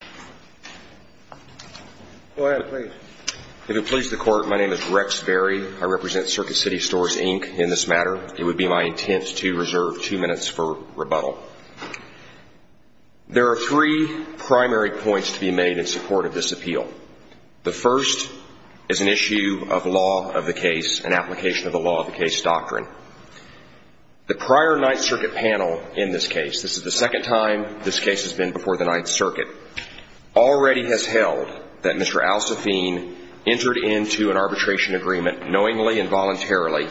3. There are three primary points to be made in support of this appeal. The first is an issue of law of the case and application of the law of the case doctrine. The prior Ninth has held that Mr. Al-Safin entered into an arbitration agreement knowingly and voluntarily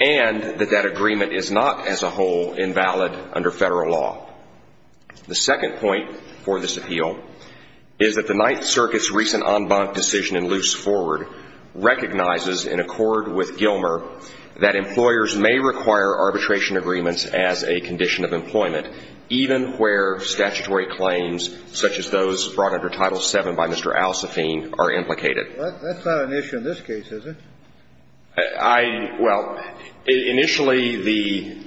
and that that agreement is not as a whole invalid under federal law. The second point for this appeal is that the Ninth Circuit's recent en banc decision in Luce Forward recognizes in accord with Gilmer that employers may require arbitration agreements as a condition of employment even where statutory claims such as those brought under Title VII by Mr. Al-Safin are implicated. That's not an issue in this case, is it? Well, initially the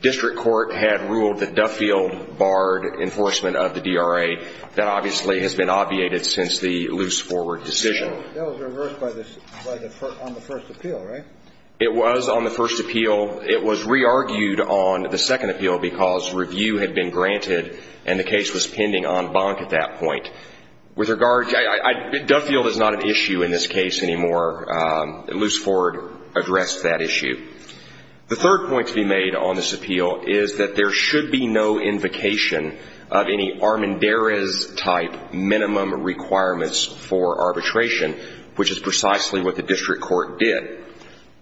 district court had ruled that Duffield barred enforcement of the DRA. That obviously has been obviated since the Luce Forward decision. That was reversed on the first appeal, right? It was on the first appeal. It was re-argued on the second appeal because review had been granted and the case was pending en banc at that point. With regard, Duffield is not an issue in this case anymore. Luce Forward addressed that issue. The third point to be made on this appeal is that there should be no invocation of any Armendariz-type minimum requirements for arbitration, which is precisely what the district court did.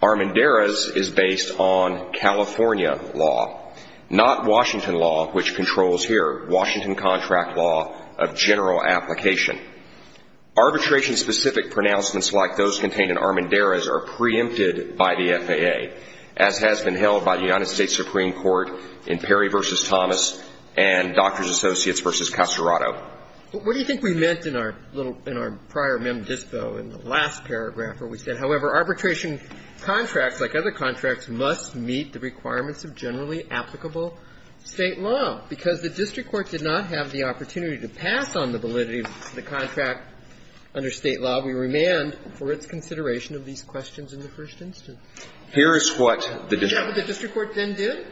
Armendariz is based on California law, not Washington law, which controls here, Washington contract law of general application. Arbitration-specific pronouncements like those contained in Armendariz are preempted by the FAA, as has been held by the United States Supreme Court in Perry v. Thomas and Doctors Associates v. Castorado. But what do you think we meant in our little, in our prior mem dispo in the last paragraph where we said, however, arbitration contracts, like other contracts, must meet the requirements of generally applicable State law? Because the district court did not have the opportunity to pass on the validity of the contract under State law. We remand for its consideration of these questions in the first instance. Here is what the district court did. Is that what the district court then did?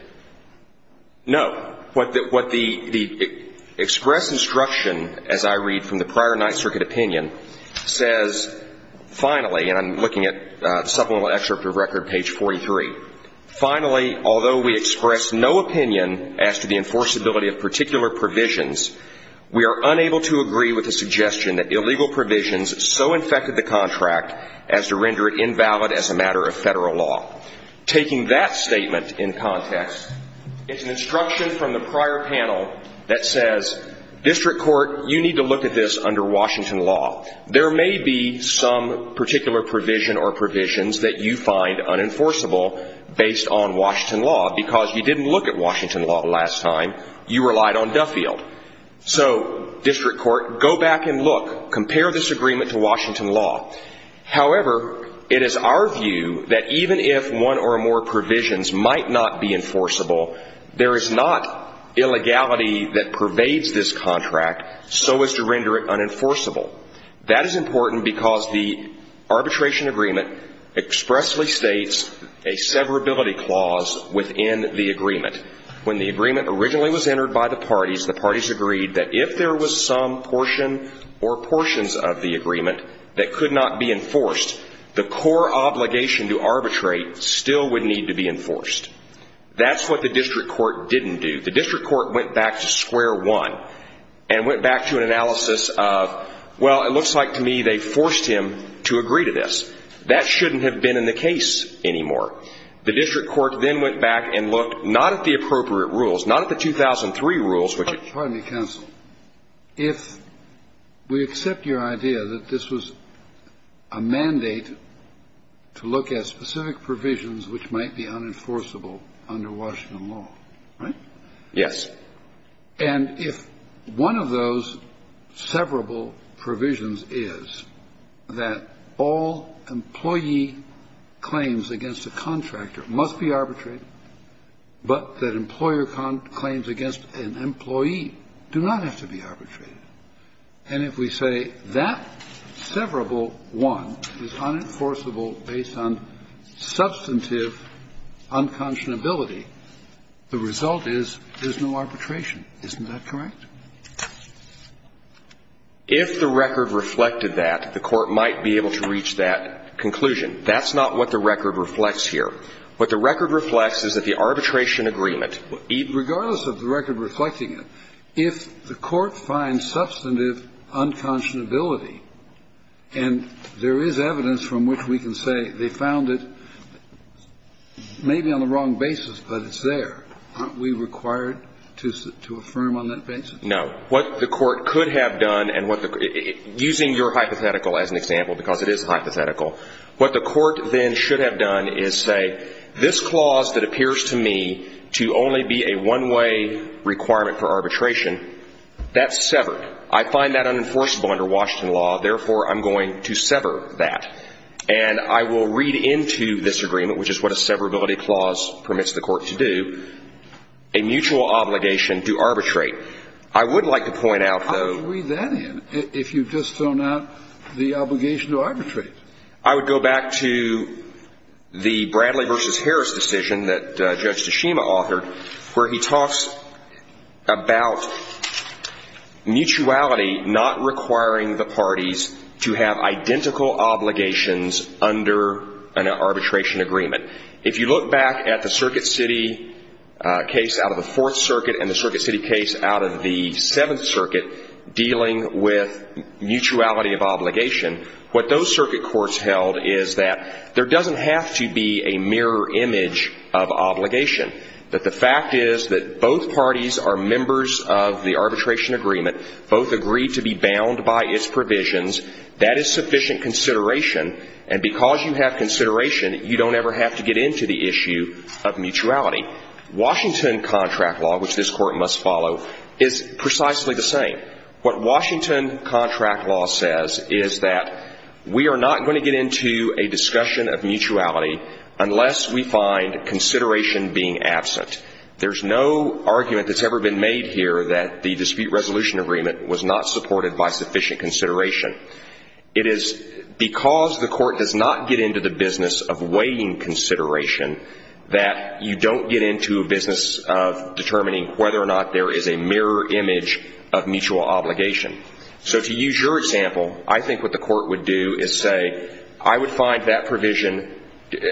No. What the expressed instruction, as I read from the prior Ninth Circuit opinion, says finally, and I'm looking at the supplemental excerpt of record, page 43. Finally, although we express no opinion as to the enforceability of particular provisions, we are unable to agree with the suggestion that illegal provisions so infected the contract as to render it invalid as a matter of Federal law. Taking that statement in context, it's an instruction from the prior panel that says, district court, you need to look at this under Washington law. There may be some particular provision or provisions that you find unenforceable based on Washington law, because you didn't look at Washington law last time. You relied on Duffield. So, district court, go back and look. Compare this agreement to Washington law. However, it is our view that even if one or more provisions might not be enforceable, there is not illegality that pervades this contract so as to render it unenforceable. That is important because the arbitration agreement expressly states a severability clause within the agreement. When the agreement originally was entered by the parties, the parties agreed that if there was some portion or portions of the agreement that could not be enforced, the core obligation to arbitrate still would need to be enforced. That's what the district court didn't do. The district court went back to square one and went back to an analysis of, well, it looks like to me they forced him to agree to this. That shouldn't have been in the case anymore. The district court then went back and looked not at the appropriate rules, not at the 2003 rules, which it was. Scalia. Pardon me, counsel. If we accept your idea that this was a mandate to look at specific provisions which might be unenforceable under Washington law, right? Yes. And if one of those severable provisions is that all employee claims against a contractor must be arbitrated but that employer claims against an employee do not have to be arbitrated, and if we say that severable one is unenforceable based on substantive unconscionability, the result is there's no arbitration. Isn't that correct? If the record reflected that, the Court might be able to reach that conclusion. That's not what the record reflects here. What the record reflects is that the arbitration agreement, regardless of the record reflecting it, if the Court finds substantive unconscionability and there is evidence from which we can say they found it maybe on the wrong basis, but it's there, aren't we required to affirm on that basis? No. What the Court could have done and what the – using your hypothetical as an example because it is hypothetical, what the Court then should have done is say this clause that appears to me to only be a one-way requirement for arbitration, that's severed. I find that unenforceable under Washington law. Therefore, I'm going to sever that. And I will read into this agreement, which is what a severability clause permits the Court to do, a mutual obligation to arbitrate. I would like to point out, though – I would go back to the Bradley v. Harris decision that Judge Tashima authored where he talks about mutuality not requiring the parties to have identical obligations under an arbitration agreement. If you look back at the Circuit City case out of the Fourth Circuit and the Circuit City case out of the Seventh Circuit dealing with mutuality of obligation, what those circuit courts held is that there doesn't have to be a mirror image of obligation, that the fact is that both parties are members of the arbitration agreement, both agree to be bound by its provisions. That is sufficient consideration, and because you have consideration, you don't ever have to get into the issue of mutuality. Now, Washington contract law, which this Court must follow, is precisely the same. What Washington contract law says is that we are not going to get into a discussion of mutuality unless we find consideration being absent. There's no argument that's ever been made here that the dispute resolution agreement was not supported by sufficient consideration. It is because the Court does not get into the business of weighing consideration that you don't get into a business of determining whether or not there is a mirror image of mutual obligation. So to use your example, I think what the Court would do is say, I would find that provision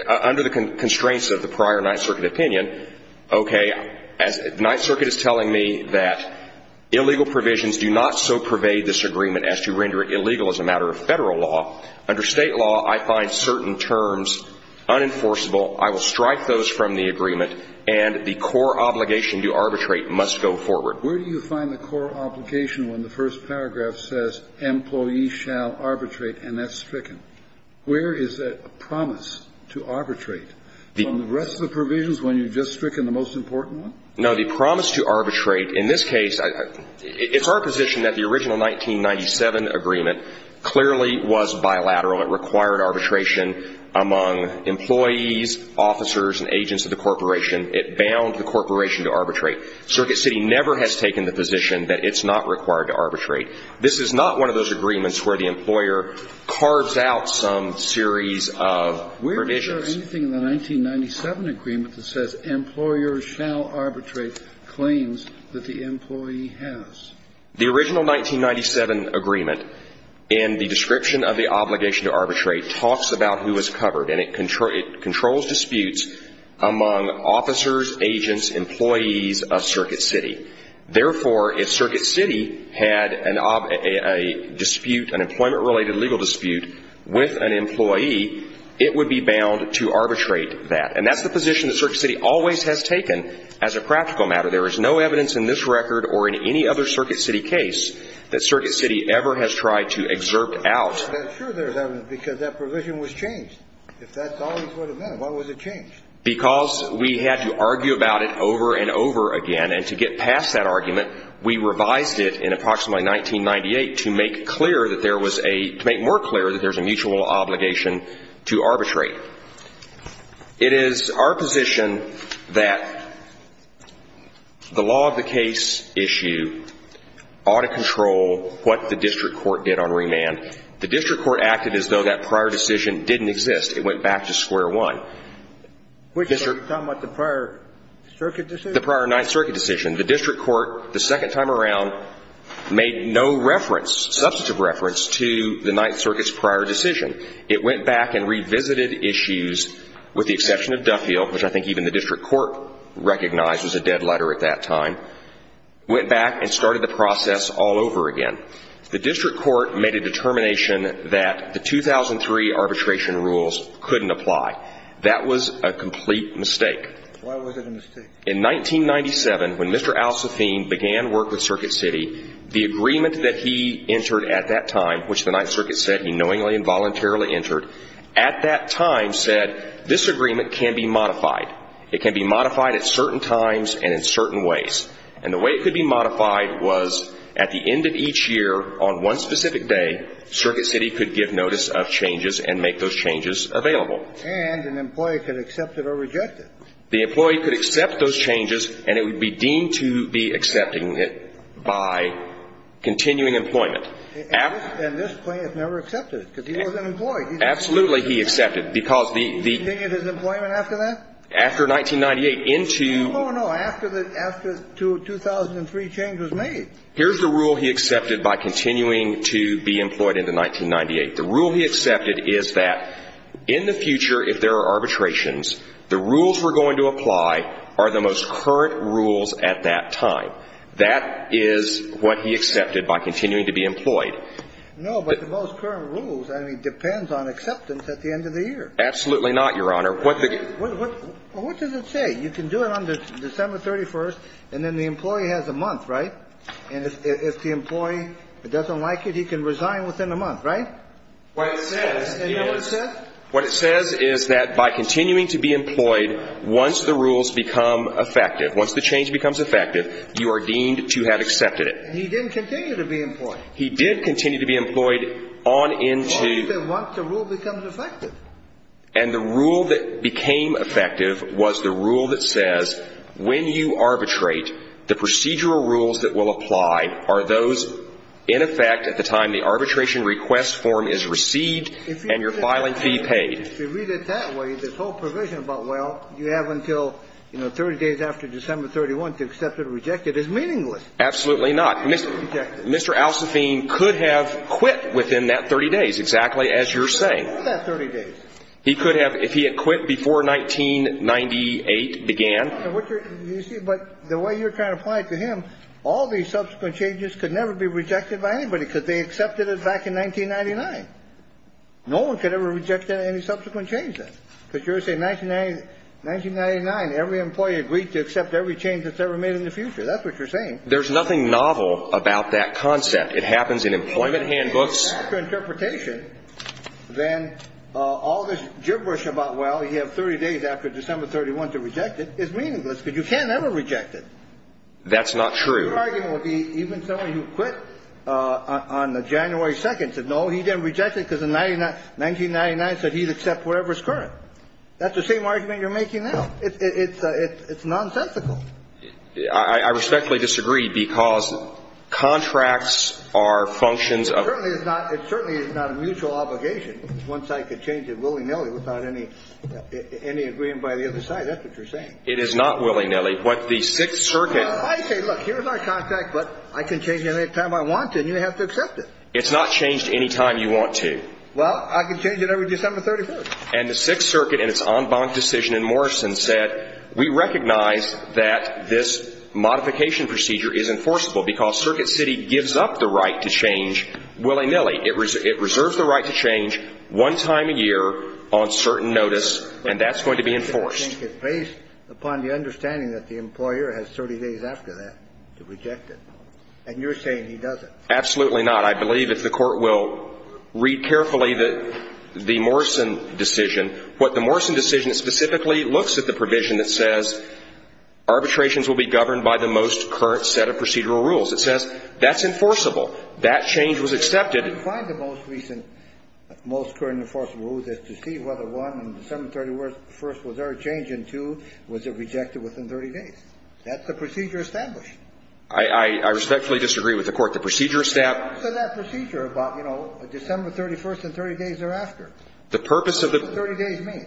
under the constraints of the prior Ninth Circuit opinion, okay, the Ninth Circuit is telling me that illegal provisions do not so pervade this agreement as to render it illegal as a matter of Federal law. Under State law, I find certain terms unenforceable. I will strike those from the agreement, and the core obligation to arbitrate must go forward. Where do you find the core obligation when the first paragraph says, employees shall arbitrate, and that's stricken? Where is that promise to arbitrate? From the rest of the provisions when you've just stricken the most important one? No. The promise to arbitrate, in this case, it's our position that the original 1997 agreement clearly was bilateral. It required arbitration among employees, officers, and agents of the corporation. It bound the corporation to arbitrate. Circuit City never has taken the position that it's not required to arbitrate. This is not one of those agreements where the employer carves out some series of provisions. Where is there anything in the 1997 agreement that says employers shall arbitrate claims that the employee has? The original 1997 agreement in the description of the obligation to arbitrate talks about who is covered, and it controls disputes among officers, agents, employees of Circuit City. Therefore, if Circuit City had a dispute, an employment-related legal dispute, with an employee, it would be bound to arbitrate that. And that's the position that Circuit City always has taken as a practical matter. There is no evidence in this record or in any other Circuit City case that Circuit City ever has tried to exert out. But sure there's evidence, because that provision was changed. If that's all it would have been, why was it changed? Because we had to argue about it over and over again, and to get past that argument, we revised it in approximately 1998 to make clear that there was a – to make more clear that there's a mutual obligation to arbitrate. It is our position that the law of the case issue ought to control what the district court did on remand. The district court acted as though that prior decision didn't exist. It went back to square one. Which? Are you talking about the prior circuit decision? The prior Ninth Circuit decision. The district court, the second time around, made no reference, substantive reference, to the Ninth Circuit's prior decision. It went back and revisited issues, with the exception of Duffield, which I think even the district court recognized was a dead letter at that time. Went back and started the process all over again. The district court made a determination that the 2003 arbitration rules couldn't apply. That was a complete mistake. Why was it a mistake? In 1997, when Mr. Al-Safin began work with Circuit City, the agreement that he entered at that time, which the Ninth Circuit said he knowingly and voluntarily entered, at that time said, this agreement can be modified. It can be modified at certain times and in certain ways. And the way it could be modified was at the end of each year, on one specific day, Circuit City could give notice of changes and make those changes available. And an employee could accept it or reject it. The employee could accept those changes, and it would be deemed to be accepting it by continuing employment. And this plaintiff never accepted it, because he was an employee. Absolutely, he accepted. Because the ‑‑ He continued his employment after that? After 1998, into ‑‑ No, no, no. After the ‑‑ after 2003, change was made. Here's the rule he accepted by continuing to be employed into 1998. The rule he accepted is that in the future, if there are arbitrations, the rules we're going to apply are the most current rules at that time. That is what he accepted by continuing to be employed. No, but the most current rules, I mean, depends on acceptance at the end of the year. Absolutely not, Your Honor. What the ‑‑ What does it say? You can do it on December 31st, and then the employee has a month, right? And if the employee doesn't like it, he can resign within a month, right? What it says is ‑‑ And you know what it says? What it says is that by continuing to be employed, once the rules become effective, once the change becomes effective, you are deemed to have accepted it. And he didn't continue to be employed. He did continue to be employed on into ‑‑ Well, he said once the rule becomes effective. And the rule that became effective was the rule that says when you arbitrate, the procedural rules that will apply are those in effect at the time the arbitration request form is received and your filing fee paid. If you read it that way, this whole provision about, well, you have until, you know, 30 days after December 31st to accept it or reject it is meaningless. Absolutely not. Mr. Alsaphine could have quit within that 30 days, exactly as you're saying. Within that 30 days. He could have, if he had quit before 1998 began. But the way you're trying to apply it to him, all these subsequent changes could never be rejected by anybody because they accepted it back in 1999. No one could ever reject any subsequent changes. Because you're saying 1999, every employee agreed to accept every change that's ever made in the future. That's what you're saying. There's nothing novel about that concept. It happens in employment handbooks. After interpretation, then all this gibberish about, well, you have 30 days after December 31st to reject it, is meaningless because you can't ever reject it. That's not true. Your argument would be even someone who quit on January 2nd said, no, he didn't reject it because in 1999 said he'd accept whatever's current. That's the same argument you're making now. It's nonsensical. I respectfully disagree because contracts are functions of. It certainly is not a mutual obligation. One side could change it willy-nilly without any agreement by the other side. That's what you're saying. It is not willy-nilly. What the Sixth Circuit. I say, look, here's our contract, but I can change it any time I want to, and you have to accept it. It's not changed any time you want to. Well, I can change it every December 31st. And the Sixth Circuit in its en banc decision in Morrison said, we recognize that this modification procedure is enforceable because Circuit City gives up the right to change willy-nilly. It reserves the right to change one time a year on certain notice, and that's going to be enforced. I think it's based upon the understanding that the employer has 30 days after that to reject it. And you're saying he doesn't. Absolutely not. I believe if the Court will read carefully the Morrison decision, what the Morrison decision specifically looks at the provision that says arbitrations will be governed by the most current set of procedural rules. It says that's enforceable. That change was accepted. I find the most recent, most current enforceable rules is to see whether 1, on December 31st, was there a change, and 2, was it rejected within 30 days. That's the procedure established. I respectfully disagree with the Court. The procedure established. I said that procedure about, you know, December 31st and 30 days thereafter. The purpose of the 30 days mean?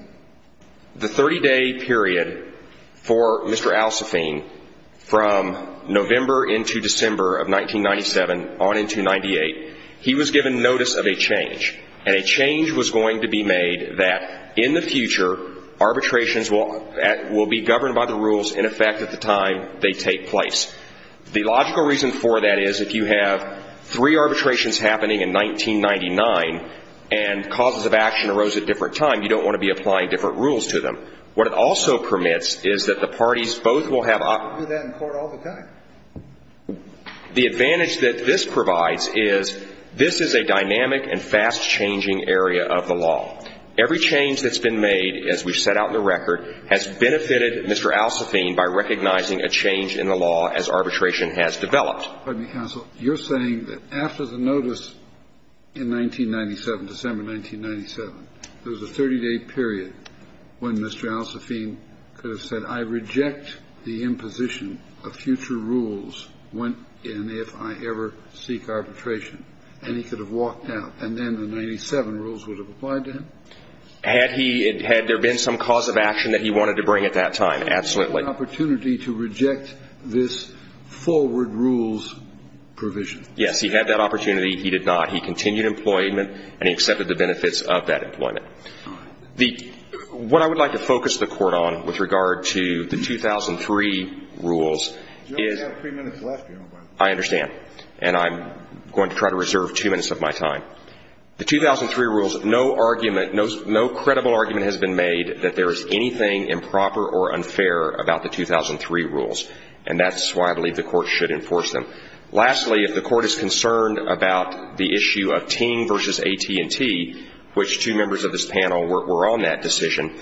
He was given notice of a change. And a change was going to be made that in the future, arbitrations will be governed by the rules in effect at the time they take place. The logical reason for that is if you have three arbitrations happening in 1999 and causes of action arose at a different time, you don't want to be applying different rules to them. What it also permits is that the parties both will have options. We do that in court all the time. The advantage that this provides is this is a dynamic and fast-changing area of the law. Every change that's been made, as we've set out in the record, has benefited Mr. Alsafine by recognizing a change in the law as arbitration has developed. You're saying that after the notice in 1997, December 1997, there was a 30-day period when Mr. Alsafine could have said, I reject the imposition of future rules if I ever seek arbitration. And he could have walked out. And then the 97 rules would have applied to him? Had there been some cause of action that he wanted to bring at that time, absolutely. He had an opportunity to reject this forward rules provision. Yes, he had that opportunity. He did not. He continued employment, and he accepted the benefits of that employment. All right. What I would like to focus the Court on with regard to the 2003 rules is — You only have three minutes left, Your Honor. I understand. And I'm going to try to reserve two minutes of my time. The 2003 rules, no argument, no credible argument has been made that there is anything improper or unfair about the 2003 rules. And that's why I believe the Court should enforce them. Lastly, if the Court is concerned about the issue of Ting v. AT&T, which two members of this panel were on that decision,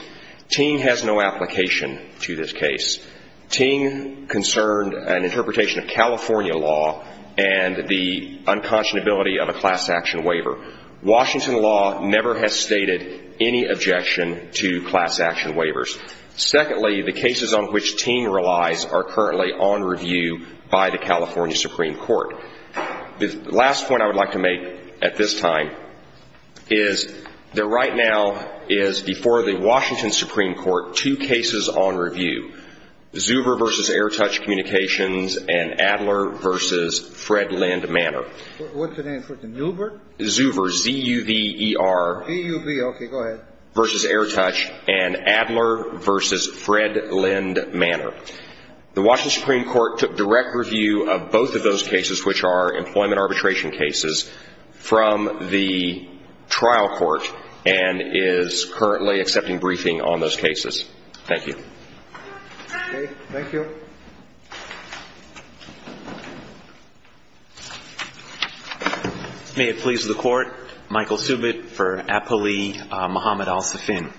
Ting has no application to this case. Ting concerned an interpretation of California law and the unconscionability of a class action waiver. Washington law never has stated any objection to class action waivers. Secondly, the cases on which Ting relies are currently on review by the California Supreme Court. The last point I would like to make at this time is that right now is before the Washington Supreme Court two cases on review. Zuber v. Airtouch Communications and Adler v. Fred Lind Manor. What's the name? Zuber? Zuber, Z-U-B-E-R. Z-U-B, okay. Go ahead. Versus Airtouch and Adler v. Fred Lind Manor. The Washington Supreme Court took direct review of both of those cases, which are employment arbitration cases, from the trial court and is currently accepting briefing on those cases. Thank you. Okay. Thank you. May it please the Court. Michael Subit for Apolli Muhammad Al-Sufin.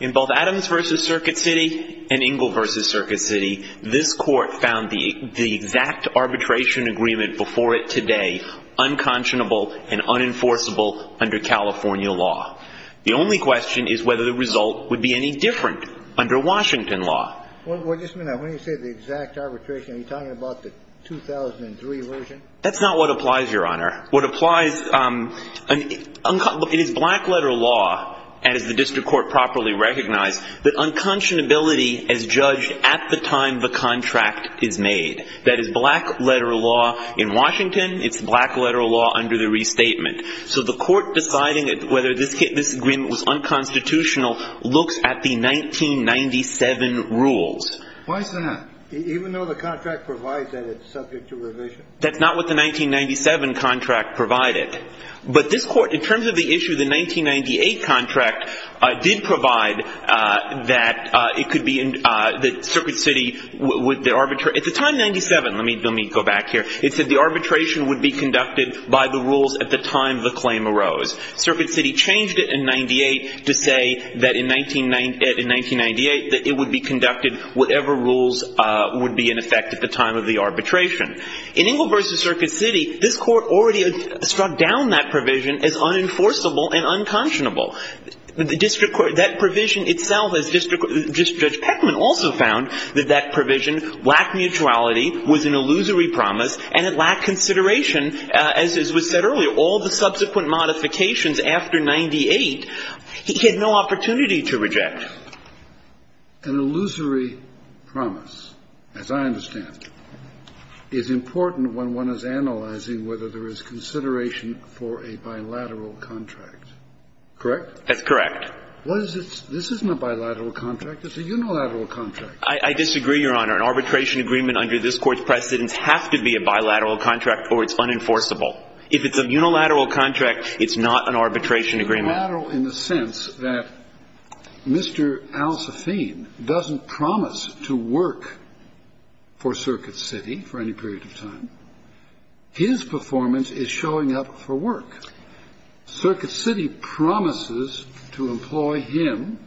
In both Adams v. Circuit City and Ingle v. Circuit City, this Court found the exact arbitration agreement before it today unconscionable and unenforceable under California law. The only question is whether the result would be any different under Washington law. Well, just a minute. When you say the exact arbitration, are you talking about the 2003 version? That's not what applies, Your Honor. What applies, it is black-letter law, and as the district court properly recognized, that unconscionability is judged at the time the contract is made. That is black-letter law in Washington. It's black-letter law under the restatement. So the Court deciding whether this agreement was unconstitutional looks at the 1997 rules. Why is that? Even though the contract provides that it's subject to revision? That's not what the 1997 contract provided. But this Court, in terms of the issue, the 1998 contract did provide that it could be in the Circuit City with the arbitrary Let me go back here. It said the arbitration would be conducted by the rules at the time the claim arose. Circuit City changed it in 1998 to say that in 1998 that it would be conducted whatever rules would be in effect at the time of the arbitration. In Engle v. Circuit City, this Court already struck down that provision as unenforceable and unconscionable. That provision itself, as District Judge Peckman also found, that that provision lacked mutuality, was an illusory promise, and it lacked consideration, as was said earlier. All the subsequent modifications after 1998, he had no opportunity to reject. An illusory promise, as I understand, is important when one is analyzing whether there is consideration for a bilateral contract. Correct? That's correct. This isn't a bilateral contract. It's a unilateral contract. I disagree, Your Honor. An arbitration agreement under this Court's precedence has to be a bilateral contract or it's unenforceable. If it's a unilateral contract, it's not an arbitration agreement. Unilateral in the sense that Mr. Al-Safin doesn't promise to work for Circuit City for any period of time. His performance is showing up for work. Circuit City promises to employ him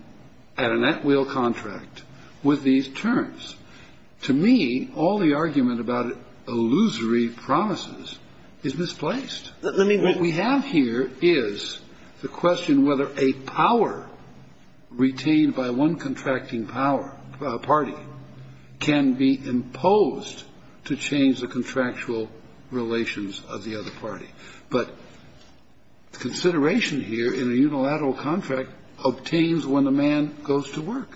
at a net wheel contract with these terms. To me, all the argument about illusory promises is misplaced. What we have here is the question whether a power retained by one contracting power, party, can be imposed to change the contractual relations of the other party. But consideration here in a unilateral contract obtains when the man goes to work.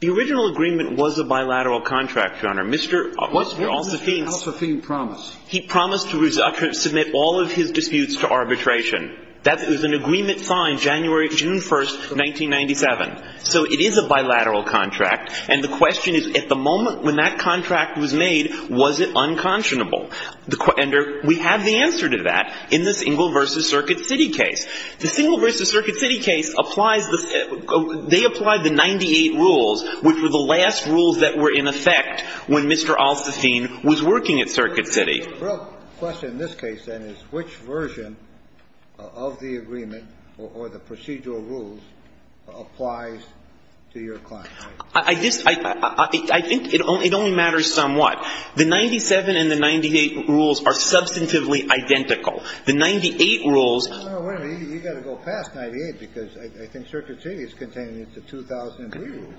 The original agreement was a bilateral contract, Your Honor. Mr. Al-Safin promised. He promised to submit all of his disputes to arbitration. That was an agreement signed January, June 1st, 1997. So it is a bilateral contract. And the question is, at the moment when that contract was made, was it unconscionable? And we have the answer to that in this Engel v. Circuit City case. The Engel v. Circuit City case applies the 98 rules, which were the last rules that were in effect when Mr. Al-Safin was working at Circuit City. The real question in this case, then, is which version of the agreement or the procedural rules applies to your client? I think it only matters somewhat. The 97 and the 98 rules are substantively identical. The 98 rules ---- Kennedy, you've got to go past 98, because I think Circuit City is contained in the 2003 rules.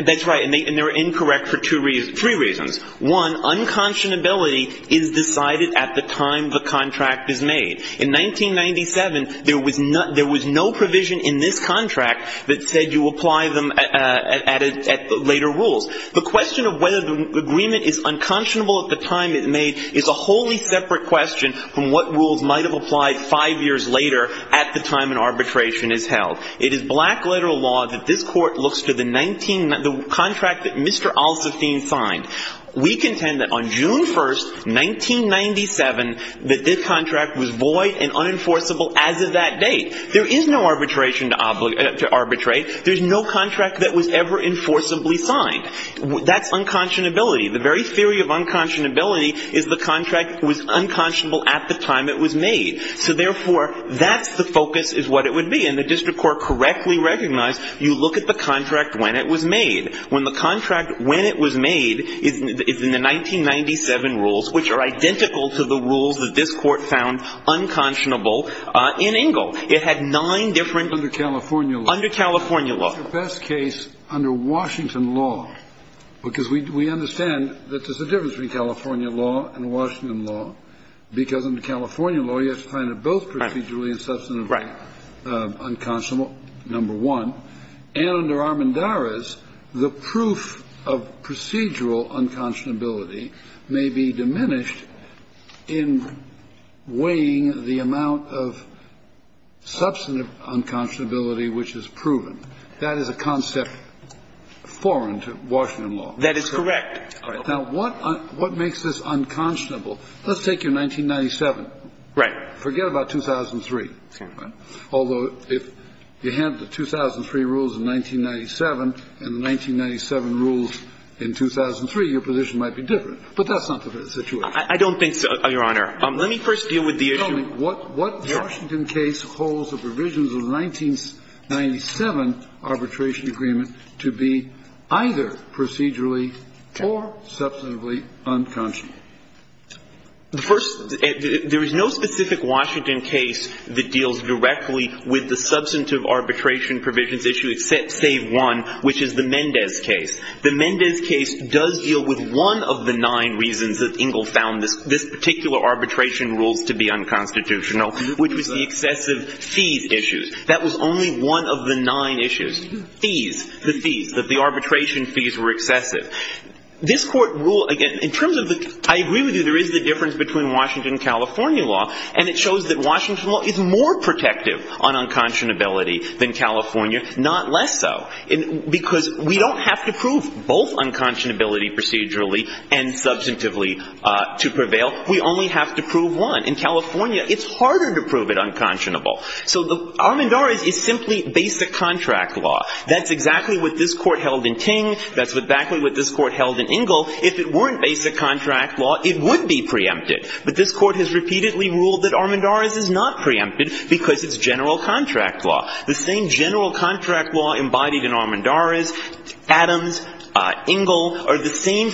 That's right. And they're incorrect for two reasons, three reasons. One, unconscionability is decided at the time the contract is made. In 1997, there was no provision in this contract that said you apply them at later rules. The question of whether the agreement is unconscionable at the time it's made is a wholly separate question from what rules might have applied five years later at the time an arbitration is held. It is black-letter law that this Court looks to the 19 ---- the contract that Mr. Al-Safin signed. We contend that on June 1, 1997, that this contract was void and unenforceable as of that date. There is no arbitration to arbitrate. There is no contract that was ever enforceably signed. That's unconscionability. The very theory of unconscionability is the contract was unconscionable at the time it was made. So, therefore, that's the focus is what it would be. And the district court correctly recognized you look at the contract when it was made. When the contract when it was made is in the 1997 rules, which are identical to the rules that this Court found unconscionable in Engle. It had nine different ---- Under California law. It's the best case under Washington law, because we understand that there's a difference between California law and Washington law, because under California law you have to find it both procedurally and substantively unconscionable, number one. And under Armendariz, the proof of procedural unconscionability may be diminished in weighing the amount of substantive unconscionability which is proven. That is a concept foreign to Washington law. That is correct. All right. Now, what makes this unconscionable? Let's take your 1997. Right. Forget about 2003. Okay. Although, if you have the 2003 rules in 1997 and the 1997 rules in 2003, your position might be different. But that's not the situation. I don't think so, Your Honor. Let me first deal with the issue. I'm wondering what Washington case holds the provisions of the 1997 arbitration agreement to be either procedurally or substantively unconscionable. The first ---- there is no specific Washington case that deals directly with the substantive arbitration provisions issue except save one, which is the Mendez case. The Mendez case does deal with one of the nine reasons that Engle found this particular arbitration rules to be unconstitutional, which was the excessive fees issue. That was only one of the nine issues. Fees. The fees. That the arbitration fees were excessive. This Court rule, again, in terms of the ---- I agree with you. There is the difference between Washington and California law, and it shows that Washington law is more protective on unconscionability than California, not less so, because we don't have to prove both unconscionability procedurally and substantively to prevail. We only have to prove one. In California, it's harder to prove it unconscionable. So Armendariz is simply basic contract law. That's exactly what this Court held in Ting. That's exactly what this Court held in Engle. If it weren't basic contract law, it would be preempted. But this Court has repeatedly ruled that Armendariz is not preempted because it's general contract law. The same general contract law embodied in Armendariz, Adams, Engle, are the same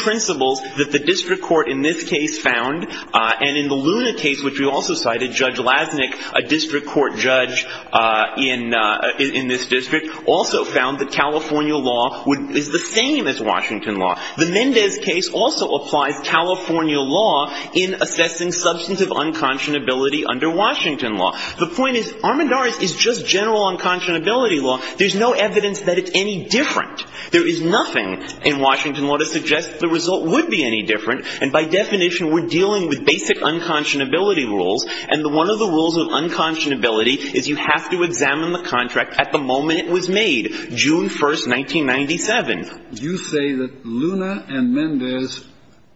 The Mendez case also applies California law in assessing substantive unconscionability under Washington law. The point is, Armendariz is just general unconscionability law. There's no evidence that it's any different. There is nothing in Washington law to suggest the result would be any different, And by definition, we're dealing with basic unconscionability rules. And one of the rules of unconscionability is you have to examine the contract at the moment it was made, June 1, 1997. You say that Luna and Mendez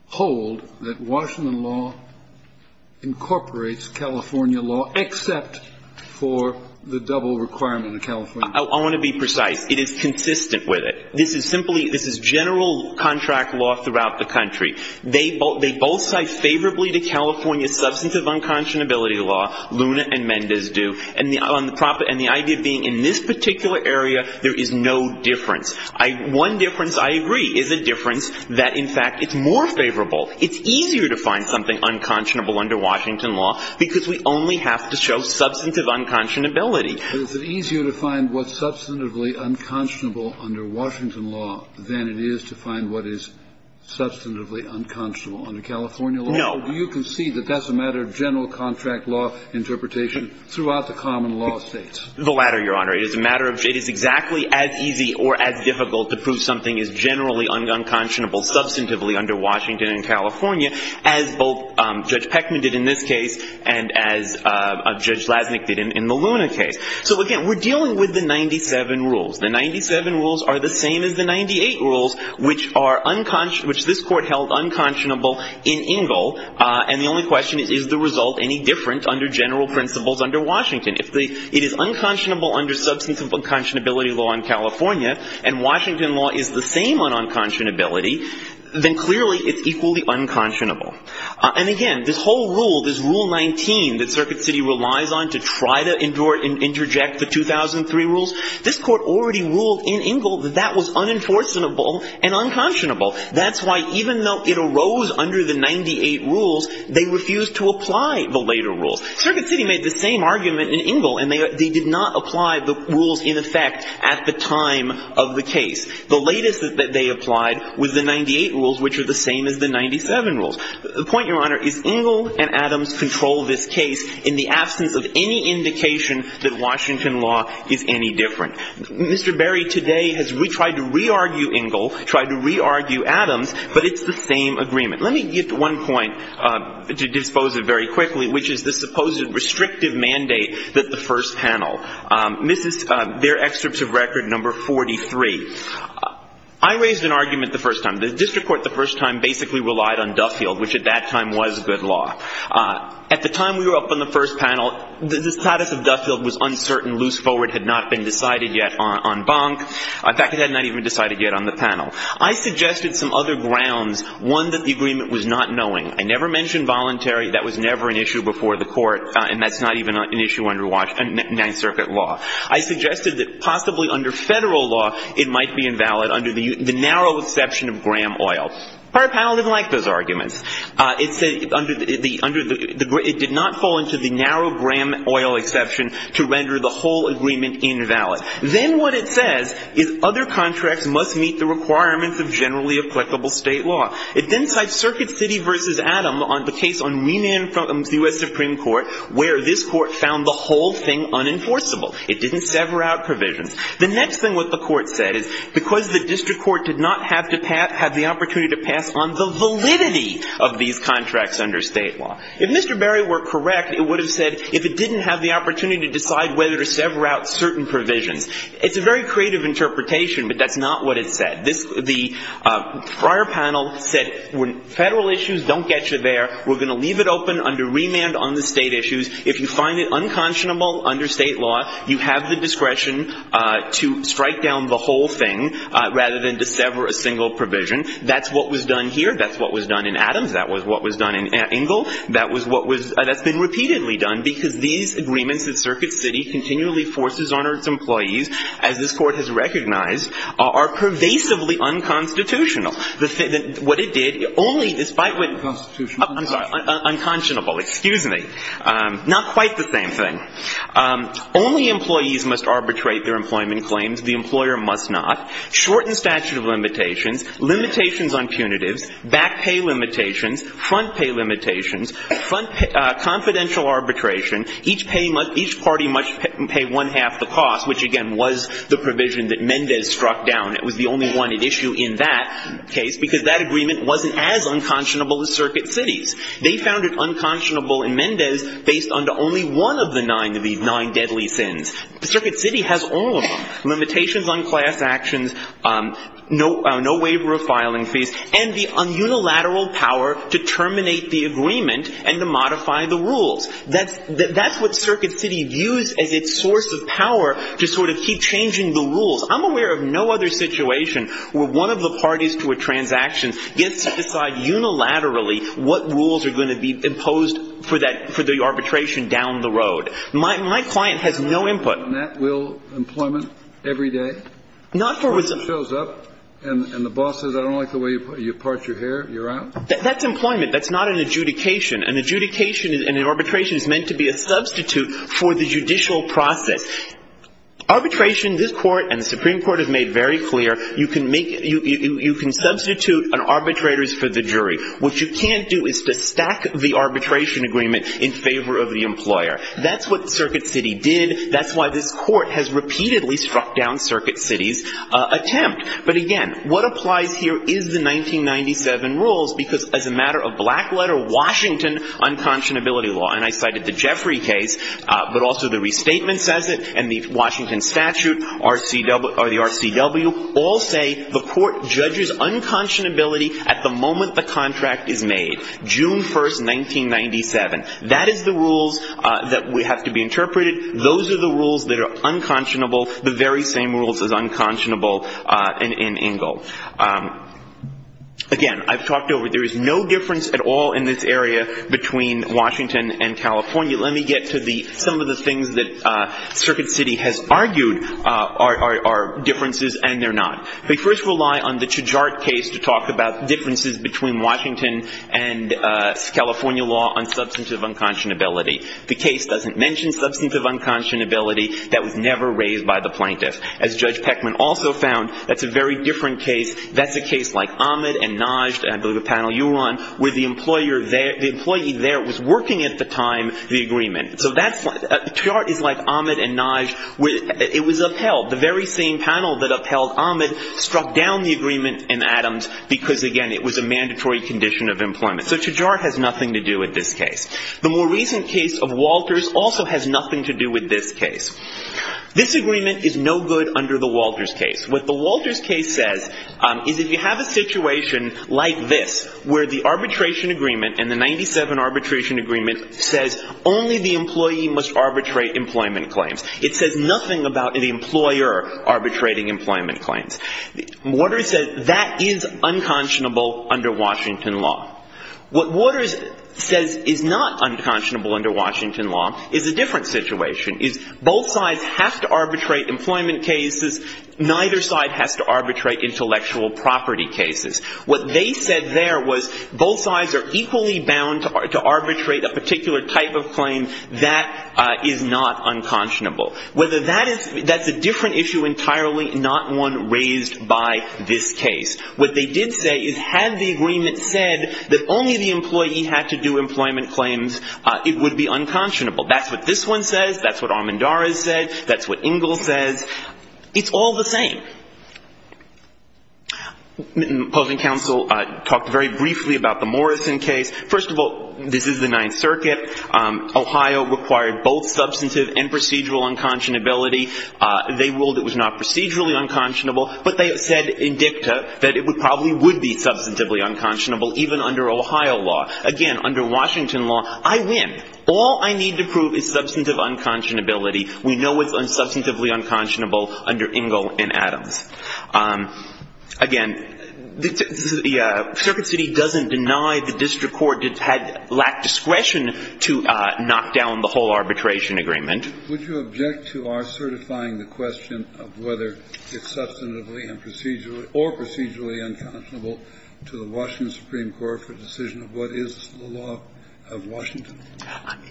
hold that Washington law incorporates California law, except for the double requirement of California law. I want to be precise. It is consistent with it. This is simply, this is general contract law throughout the country. They both side favorably to California's substantive unconscionability law. Luna and Mendez do. And the idea of being in this particular area, there is no difference. One difference I agree is a difference that, in fact, it's more favorable. It's easier to find something unconscionable under Washington law because we only have to show substantive unconscionability. Kennedy. It's easier to find what's substantively unconscionable under Washington law than it is to find what is substantively unconscionable under California law. No. Do you concede that that's a matter of general contract law interpretation throughout the common law states? The latter, Your Honor. It is a matter of, it is exactly as easy or as difficult to prove something is generally unconscionable substantively under Washington and California as both Judge Peckman did in this case and as Judge Lasnik did in the Luna case. So, again, we're dealing with the 97 rules. The 97 rules are the same as the 98 rules, which this court held unconscionable in Ingle. And the only question is, is the result any different under general principles under Washington? If it is unconscionable under substantive unconscionability law in California and Washington law is the same on unconscionability, then clearly it's equally unconscionable. And, again, this whole rule, this Rule 19 that Circuit City relies on to try to that was unenforceable and unconscionable. That's why even though it arose under the 98 rules, they refused to apply the later rules. Circuit City made the same argument in Ingle, and they did not apply the rules in effect at the time of the case. The latest that they applied was the 98 rules, which are the same as the 97 rules. The point, Your Honor, is Ingle and Adams control this case in the absence of any indication that Washington law is any different. Mr. Berry today has tried to re-argue Ingle, tried to re-argue Adams, but it's the same agreement. Let me get to one point to dispose of very quickly, which is the supposed restrictive mandate that the first panel, their excerpt of record number 43. I raised an argument the first time. The district court the first time basically relied on Duffield, which at that time was good law. At the time we were up on the first panel, the status of Duffield was uncertain, loose forward had not been decided yet on Bonk. In fact, it had not even been decided yet on the panel. I suggested some other grounds, one that the agreement was not knowing. I never mentioned voluntary. That was never an issue before the court, and that's not even an issue under Ninth Circuit law. I suggested that possibly under Federal law it might be invalid under the narrow exception of Graham oil. The prior panel didn't like those arguments. It said under the – it did not fall into the narrow Graham oil exception to render the whole agreement invalid. Then what it says is other contracts must meet the requirements of generally applicable state law. It then cites Circuit City v. Adam on the case on Wienand from the U.S. Supreme Court where this court found the whole thing unenforceable. It didn't sever out provisions. The next thing what the court said is because the district court did not have the opportunity to pass on the validity of these contracts under state law. If Mr. Berry were correct, it would have said if it didn't have the opportunity to decide whether to sever out certain provisions. It's a very creative interpretation, but that's not what it said. This – the prior panel said Federal issues don't get you there. We're going to leave it open under Wienand on the state issues. If you find it unconscionable under state law, you have the discretion to strike down the whole thing rather than to sever a single provision. That's what was done here. That's what was done in Adams. That was what was done in Ingle. That was what was – that's been repeatedly done because these agreements that Circuit City continually forces on its employees, as this court has recognized, are pervasively unconstitutional. What it did, only despite what – Unconstitutional. I'm sorry. Unconscionable. Excuse me. Not quite the same thing. Only employees must arbitrate their employment claims. The employer must not. Shorten statute of limitations. Limitations on punitives. Back pay limitations. Front pay limitations. Confidential arbitration. Each party must pay one-half the cost, which, again, was the provision that Mendez struck down. It was the only one at issue in that case because that agreement wasn't as unconscionable as Circuit City's. They found it unconscionable in Mendez based on only one of the nine deadly sins. Circuit City has all of them. Limitations on class actions. No waiver of filing fees. And the unilateral power to terminate the agreement and to modify the rules. That's – that's what Circuit City views as its source of power to sort of keep changing the rules. I'm aware of no other situation where one of the parties to a transaction gets to decide unilaterally what rules are going to be imposed for that – for the arbitration down the road. My – my client has no input. And that will employment every day? Not for – When it shows up and the boss says, I don't like the way you part your hair, you're out? That's employment. That's not an adjudication. An adjudication in an arbitration is meant to be a substitute for the judicial process. Arbitration, this Court and the Supreme Court have made very clear, you can make – you can substitute an arbitrator's for the jury. What you can't do is to stack the arbitration agreement in favor of the employer. That's what Circuit City did. That's why this Court has repeatedly struck down Circuit City's attempt. But again, what applies here is the 1997 rules because as a matter of black letter, Washington unconscionability law. And I cited the Jeffrey case, but also the restatement says it and the Washington statute, RCW – or the RCW all say the court judges unconscionability at the moment the contract is made. June 1st, 1997. That is the rules that would have to be interpreted. Those are the rules that are unconscionable. The very same rules as unconscionable in Ingle. Again, I've talked over it. There is no difference at all in this area between Washington and California. Let me get to the – some of the things that Circuit City has argued are differences and they're not. They first rely on the Chajart case to talk about differences between Washington and California law on substantive unconscionability. The case doesn't mention substantive unconscionability. That was never raised by the plaintiff. As Judge Peckman also found, that's a very different case. That's a case like Ahmed and Najd, I believe a panel you were on, where the employer there – the employee there was working at the time the agreement. So that's – Chajart is like Ahmed and Najd. It was upheld. The very same panel that upheld Ahmed struck down the agreement in Adams because, again, it was a mandatory condition of employment. So Chajart has nothing to do with this case. The more recent case of Walters also has nothing to do with this case. This agreement is no good under the Walters case. What the Walters case says is if you have a situation like this where the arbitration agreement and the 97 arbitration agreement says only the employee must arbitrate employment claims. It says nothing about the employer arbitrating employment claims. Walters says that is unconscionable under Washington law. What Walters says is not unconscionable under Washington law is a different situation, is both sides have to arbitrate employment cases. Neither side has to arbitrate intellectual property cases. What they said there was both sides are equally bound to arbitrate a particular type of claim that is not unconscionable. Whether that is – that's a different issue entirely, not one raised by this case. What they did say is had the agreement said that only the employee had to do employment claims, it would be unconscionable. That's what this one says. That's what Armendariz said. That's what Ingle says. It's all the same. Opposing counsel talked very briefly about the Morrison case. First of all, this is the Ninth Circuit. Ohio required both substantive and procedural unconscionability. They ruled it was not procedurally unconscionable, but they said in dicta that it probably would be substantively unconscionable, even under Ohio law. Again, under Washington law, I win. All I need to prove is substantive unconscionability. We know it's substantively unconscionable under Ingle and Adams. Again, the Circuit City doesn't deny the district court had lacked discretion to knock down the whole arbitration agreement. Kennedy, would you object to our certifying the question of whether it's substantively and procedurally or procedurally unconscionable to the Washington Supreme Court for the decision of what is the law of Washington?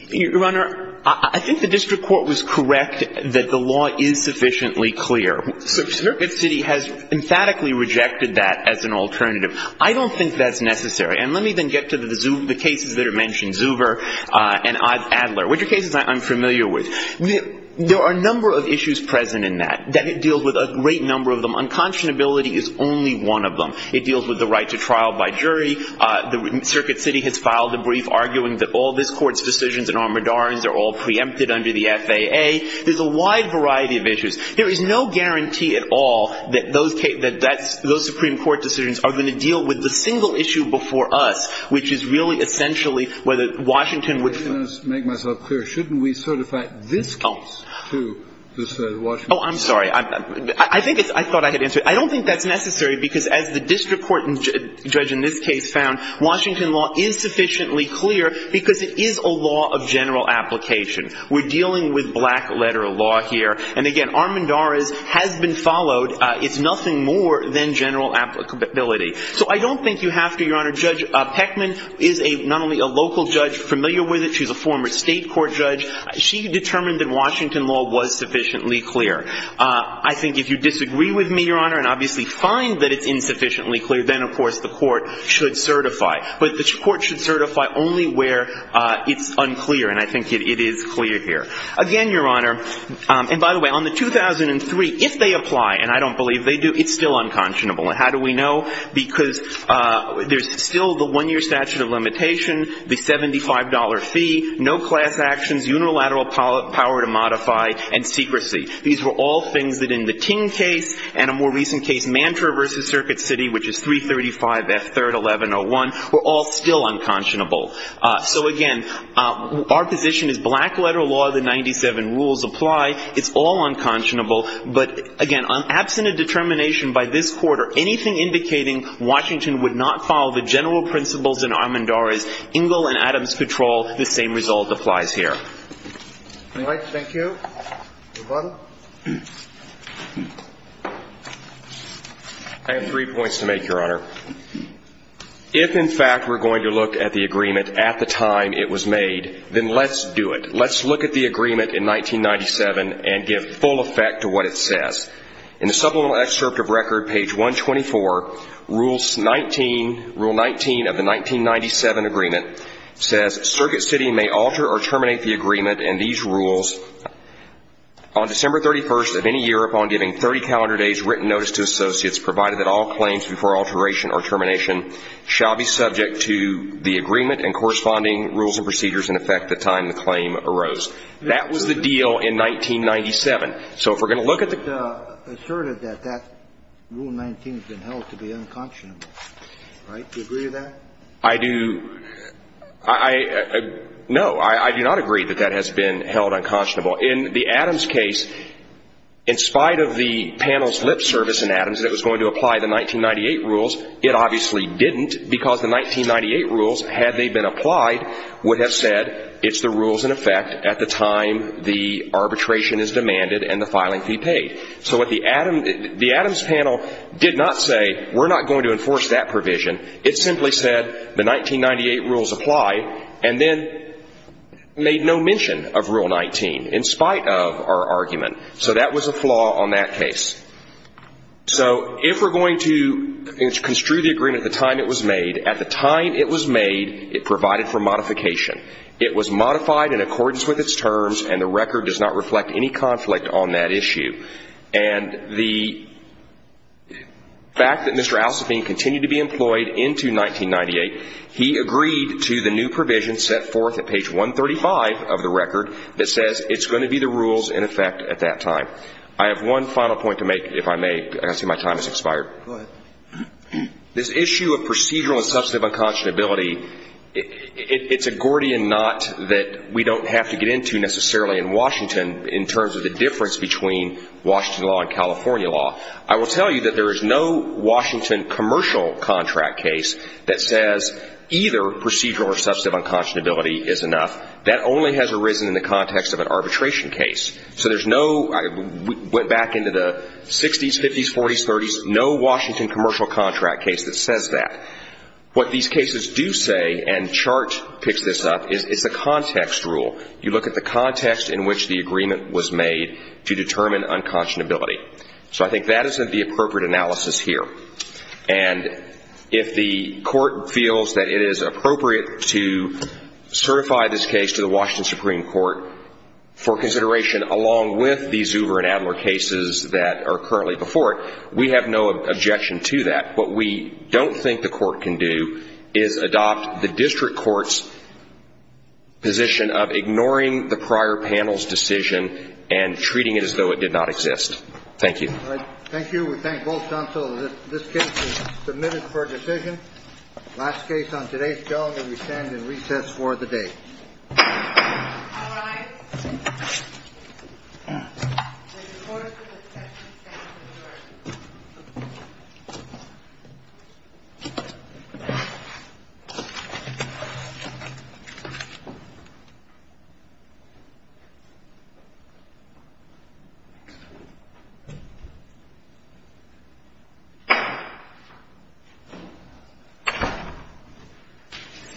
Your Honor, I think the district court was correct that the law is sufficiently clear. Circuit City has emphatically rejected that as an alternative. I don't think that's necessary. And let me then get to the cases that are mentioned, Zuber and Adler, which are cases I'm familiar with. There are a number of issues present in that, that it deals with a great number of them. Unconscionability is only one of them. It deals with the right to trial by jury. The Circuit City has filed a brief arguing that all this court's decisions and armadarans are all preempted under the FAA. There's a wide variety of issues. There is no guarantee at all that those Supreme Court decisions are going to deal with the single issue before us, which is really essentially whether Washington Supreme Court decides on whether it's the right to trial or the right to trial. Kennedy of course is saying is it's a matter of which one. Shouldn't we certify this case to this Washington Supreme Court? I'm sorry. I think I thought I had answered it. I don't think that's necessary, because as the district court judge in this case found, Washington law is sufficiently clear because it is a law of general application. We're dealing with black letter law here. And again, Armendariz has been followed. It's nothing more than general applicability. So I don't think you have to, Your Honor. Judge Peckman is not only a local judge familiar with it. She's a former state court judge. She determined that Washington law was sufficiently clear. I think if you disagree with me, Your Honor, and obviously find that it's insufficiently clear, then of course the court should certify. But the court should certify only where it's unclear. And I think it is clear here. Again, Your Honor, and by the way, on the 2003, if they apply, and I don't believe they do, it's still unconscionable. And how do we know? Because there's still the one-year statute of limitation, the $75 fee, no class actions, unilateral power to modify, and secrecy. These were all things that in the Ting case and a more recent case, Mantra v. Circuit City, which is 335F3-1101, were all still unconscionable. So again, our position is black letter law. The 97 rules apply. It's all unconscionable. But again, absent a determination by this court or anything indicating Washington would not follow the general principles in Armendariz, Ingle and Adams Patrol, the same result applies here. All right. Thank you. Your Honor. I have three points to make, Your Honor. If, in fact, we're going to look at the agreement at the time it was made, then let's do it. Let's look at the agreement in 1997 and give full effect to what it says. In the supplemental excerpt of record, page 124, rule 19 of the 1997 agreement says, Circuit City may alter or terminate the agreement and these rules, on December 31st of any year upon giving 30 calendar days written notice to shall be subject to the agreement and corresponding rules and procedures in effect the time the claim arose. That was the deal in 1997. So if we're going to look at the ---- But it asserted that that rule 19 has been held to be unconscionable. Right? Do you agree with that? I do. No. I do not agree that that has been held unconscionable. In the Adams case, in spite of the panel's lip service in Adams that was going to apply the 1998 rules, it obviously didn't because the 1998 rules, had they been applied, would have said it's the rules in effect at the time the arbitration is demanded and the filing fee paid. So what the Adams panel did not say, we're not going to enforce that provision. It simply said the 1998 rules apply and then made no mention of rule 19, in spite of our argument. So that was a flaw on that case. So if we're going to construe the agreement at the time it was made, at the time it was made it provided for modification. It was modified in accordance with its terms, and the record does not reflect any conflict on that issue. And the fact that Mr. Alsopheen continued to be employed into 1998, he agreed to the new provision set forth at page 135 of the record that says it's going to be the rules in effect at that time. I have one final point to make, if I may. I see my time has expired. Go ahead. This issue of procedural and substantive unconscionability, it's a Gordian knot that we don't have to get into necessarily in Washington in terms of the difference between Washington law and California law. I will tell you that there is no Washington commercial contract case that says either procedural or substantive unconscionability is enough. That only has arisen in the context of an arbitration case. So there's no – I went back into the 60s, 50s, 40s, 30s, no Washington commercial contract case that says that. What these cases do say, and Chart picks this up, is it's a context rule. You look at the context in which the agreement was made to determine unconscionability. So I think that isn't the appropriate analysis here. And if the Court feels that it is appropriate to certify this case to the Washington Supreme Court for consideration along with these Zuber and Adler cases that are currently before it, we have no objection to that. What we don't think the Court can do is adopt the district court's position of ignoring the prior panel's decision and treating it as though it did not exist. Thank you. Thank you. We thank both counsels. This case is submitted for decision. Last case on today's bill, and we stand in recess for the day.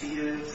See you sometime.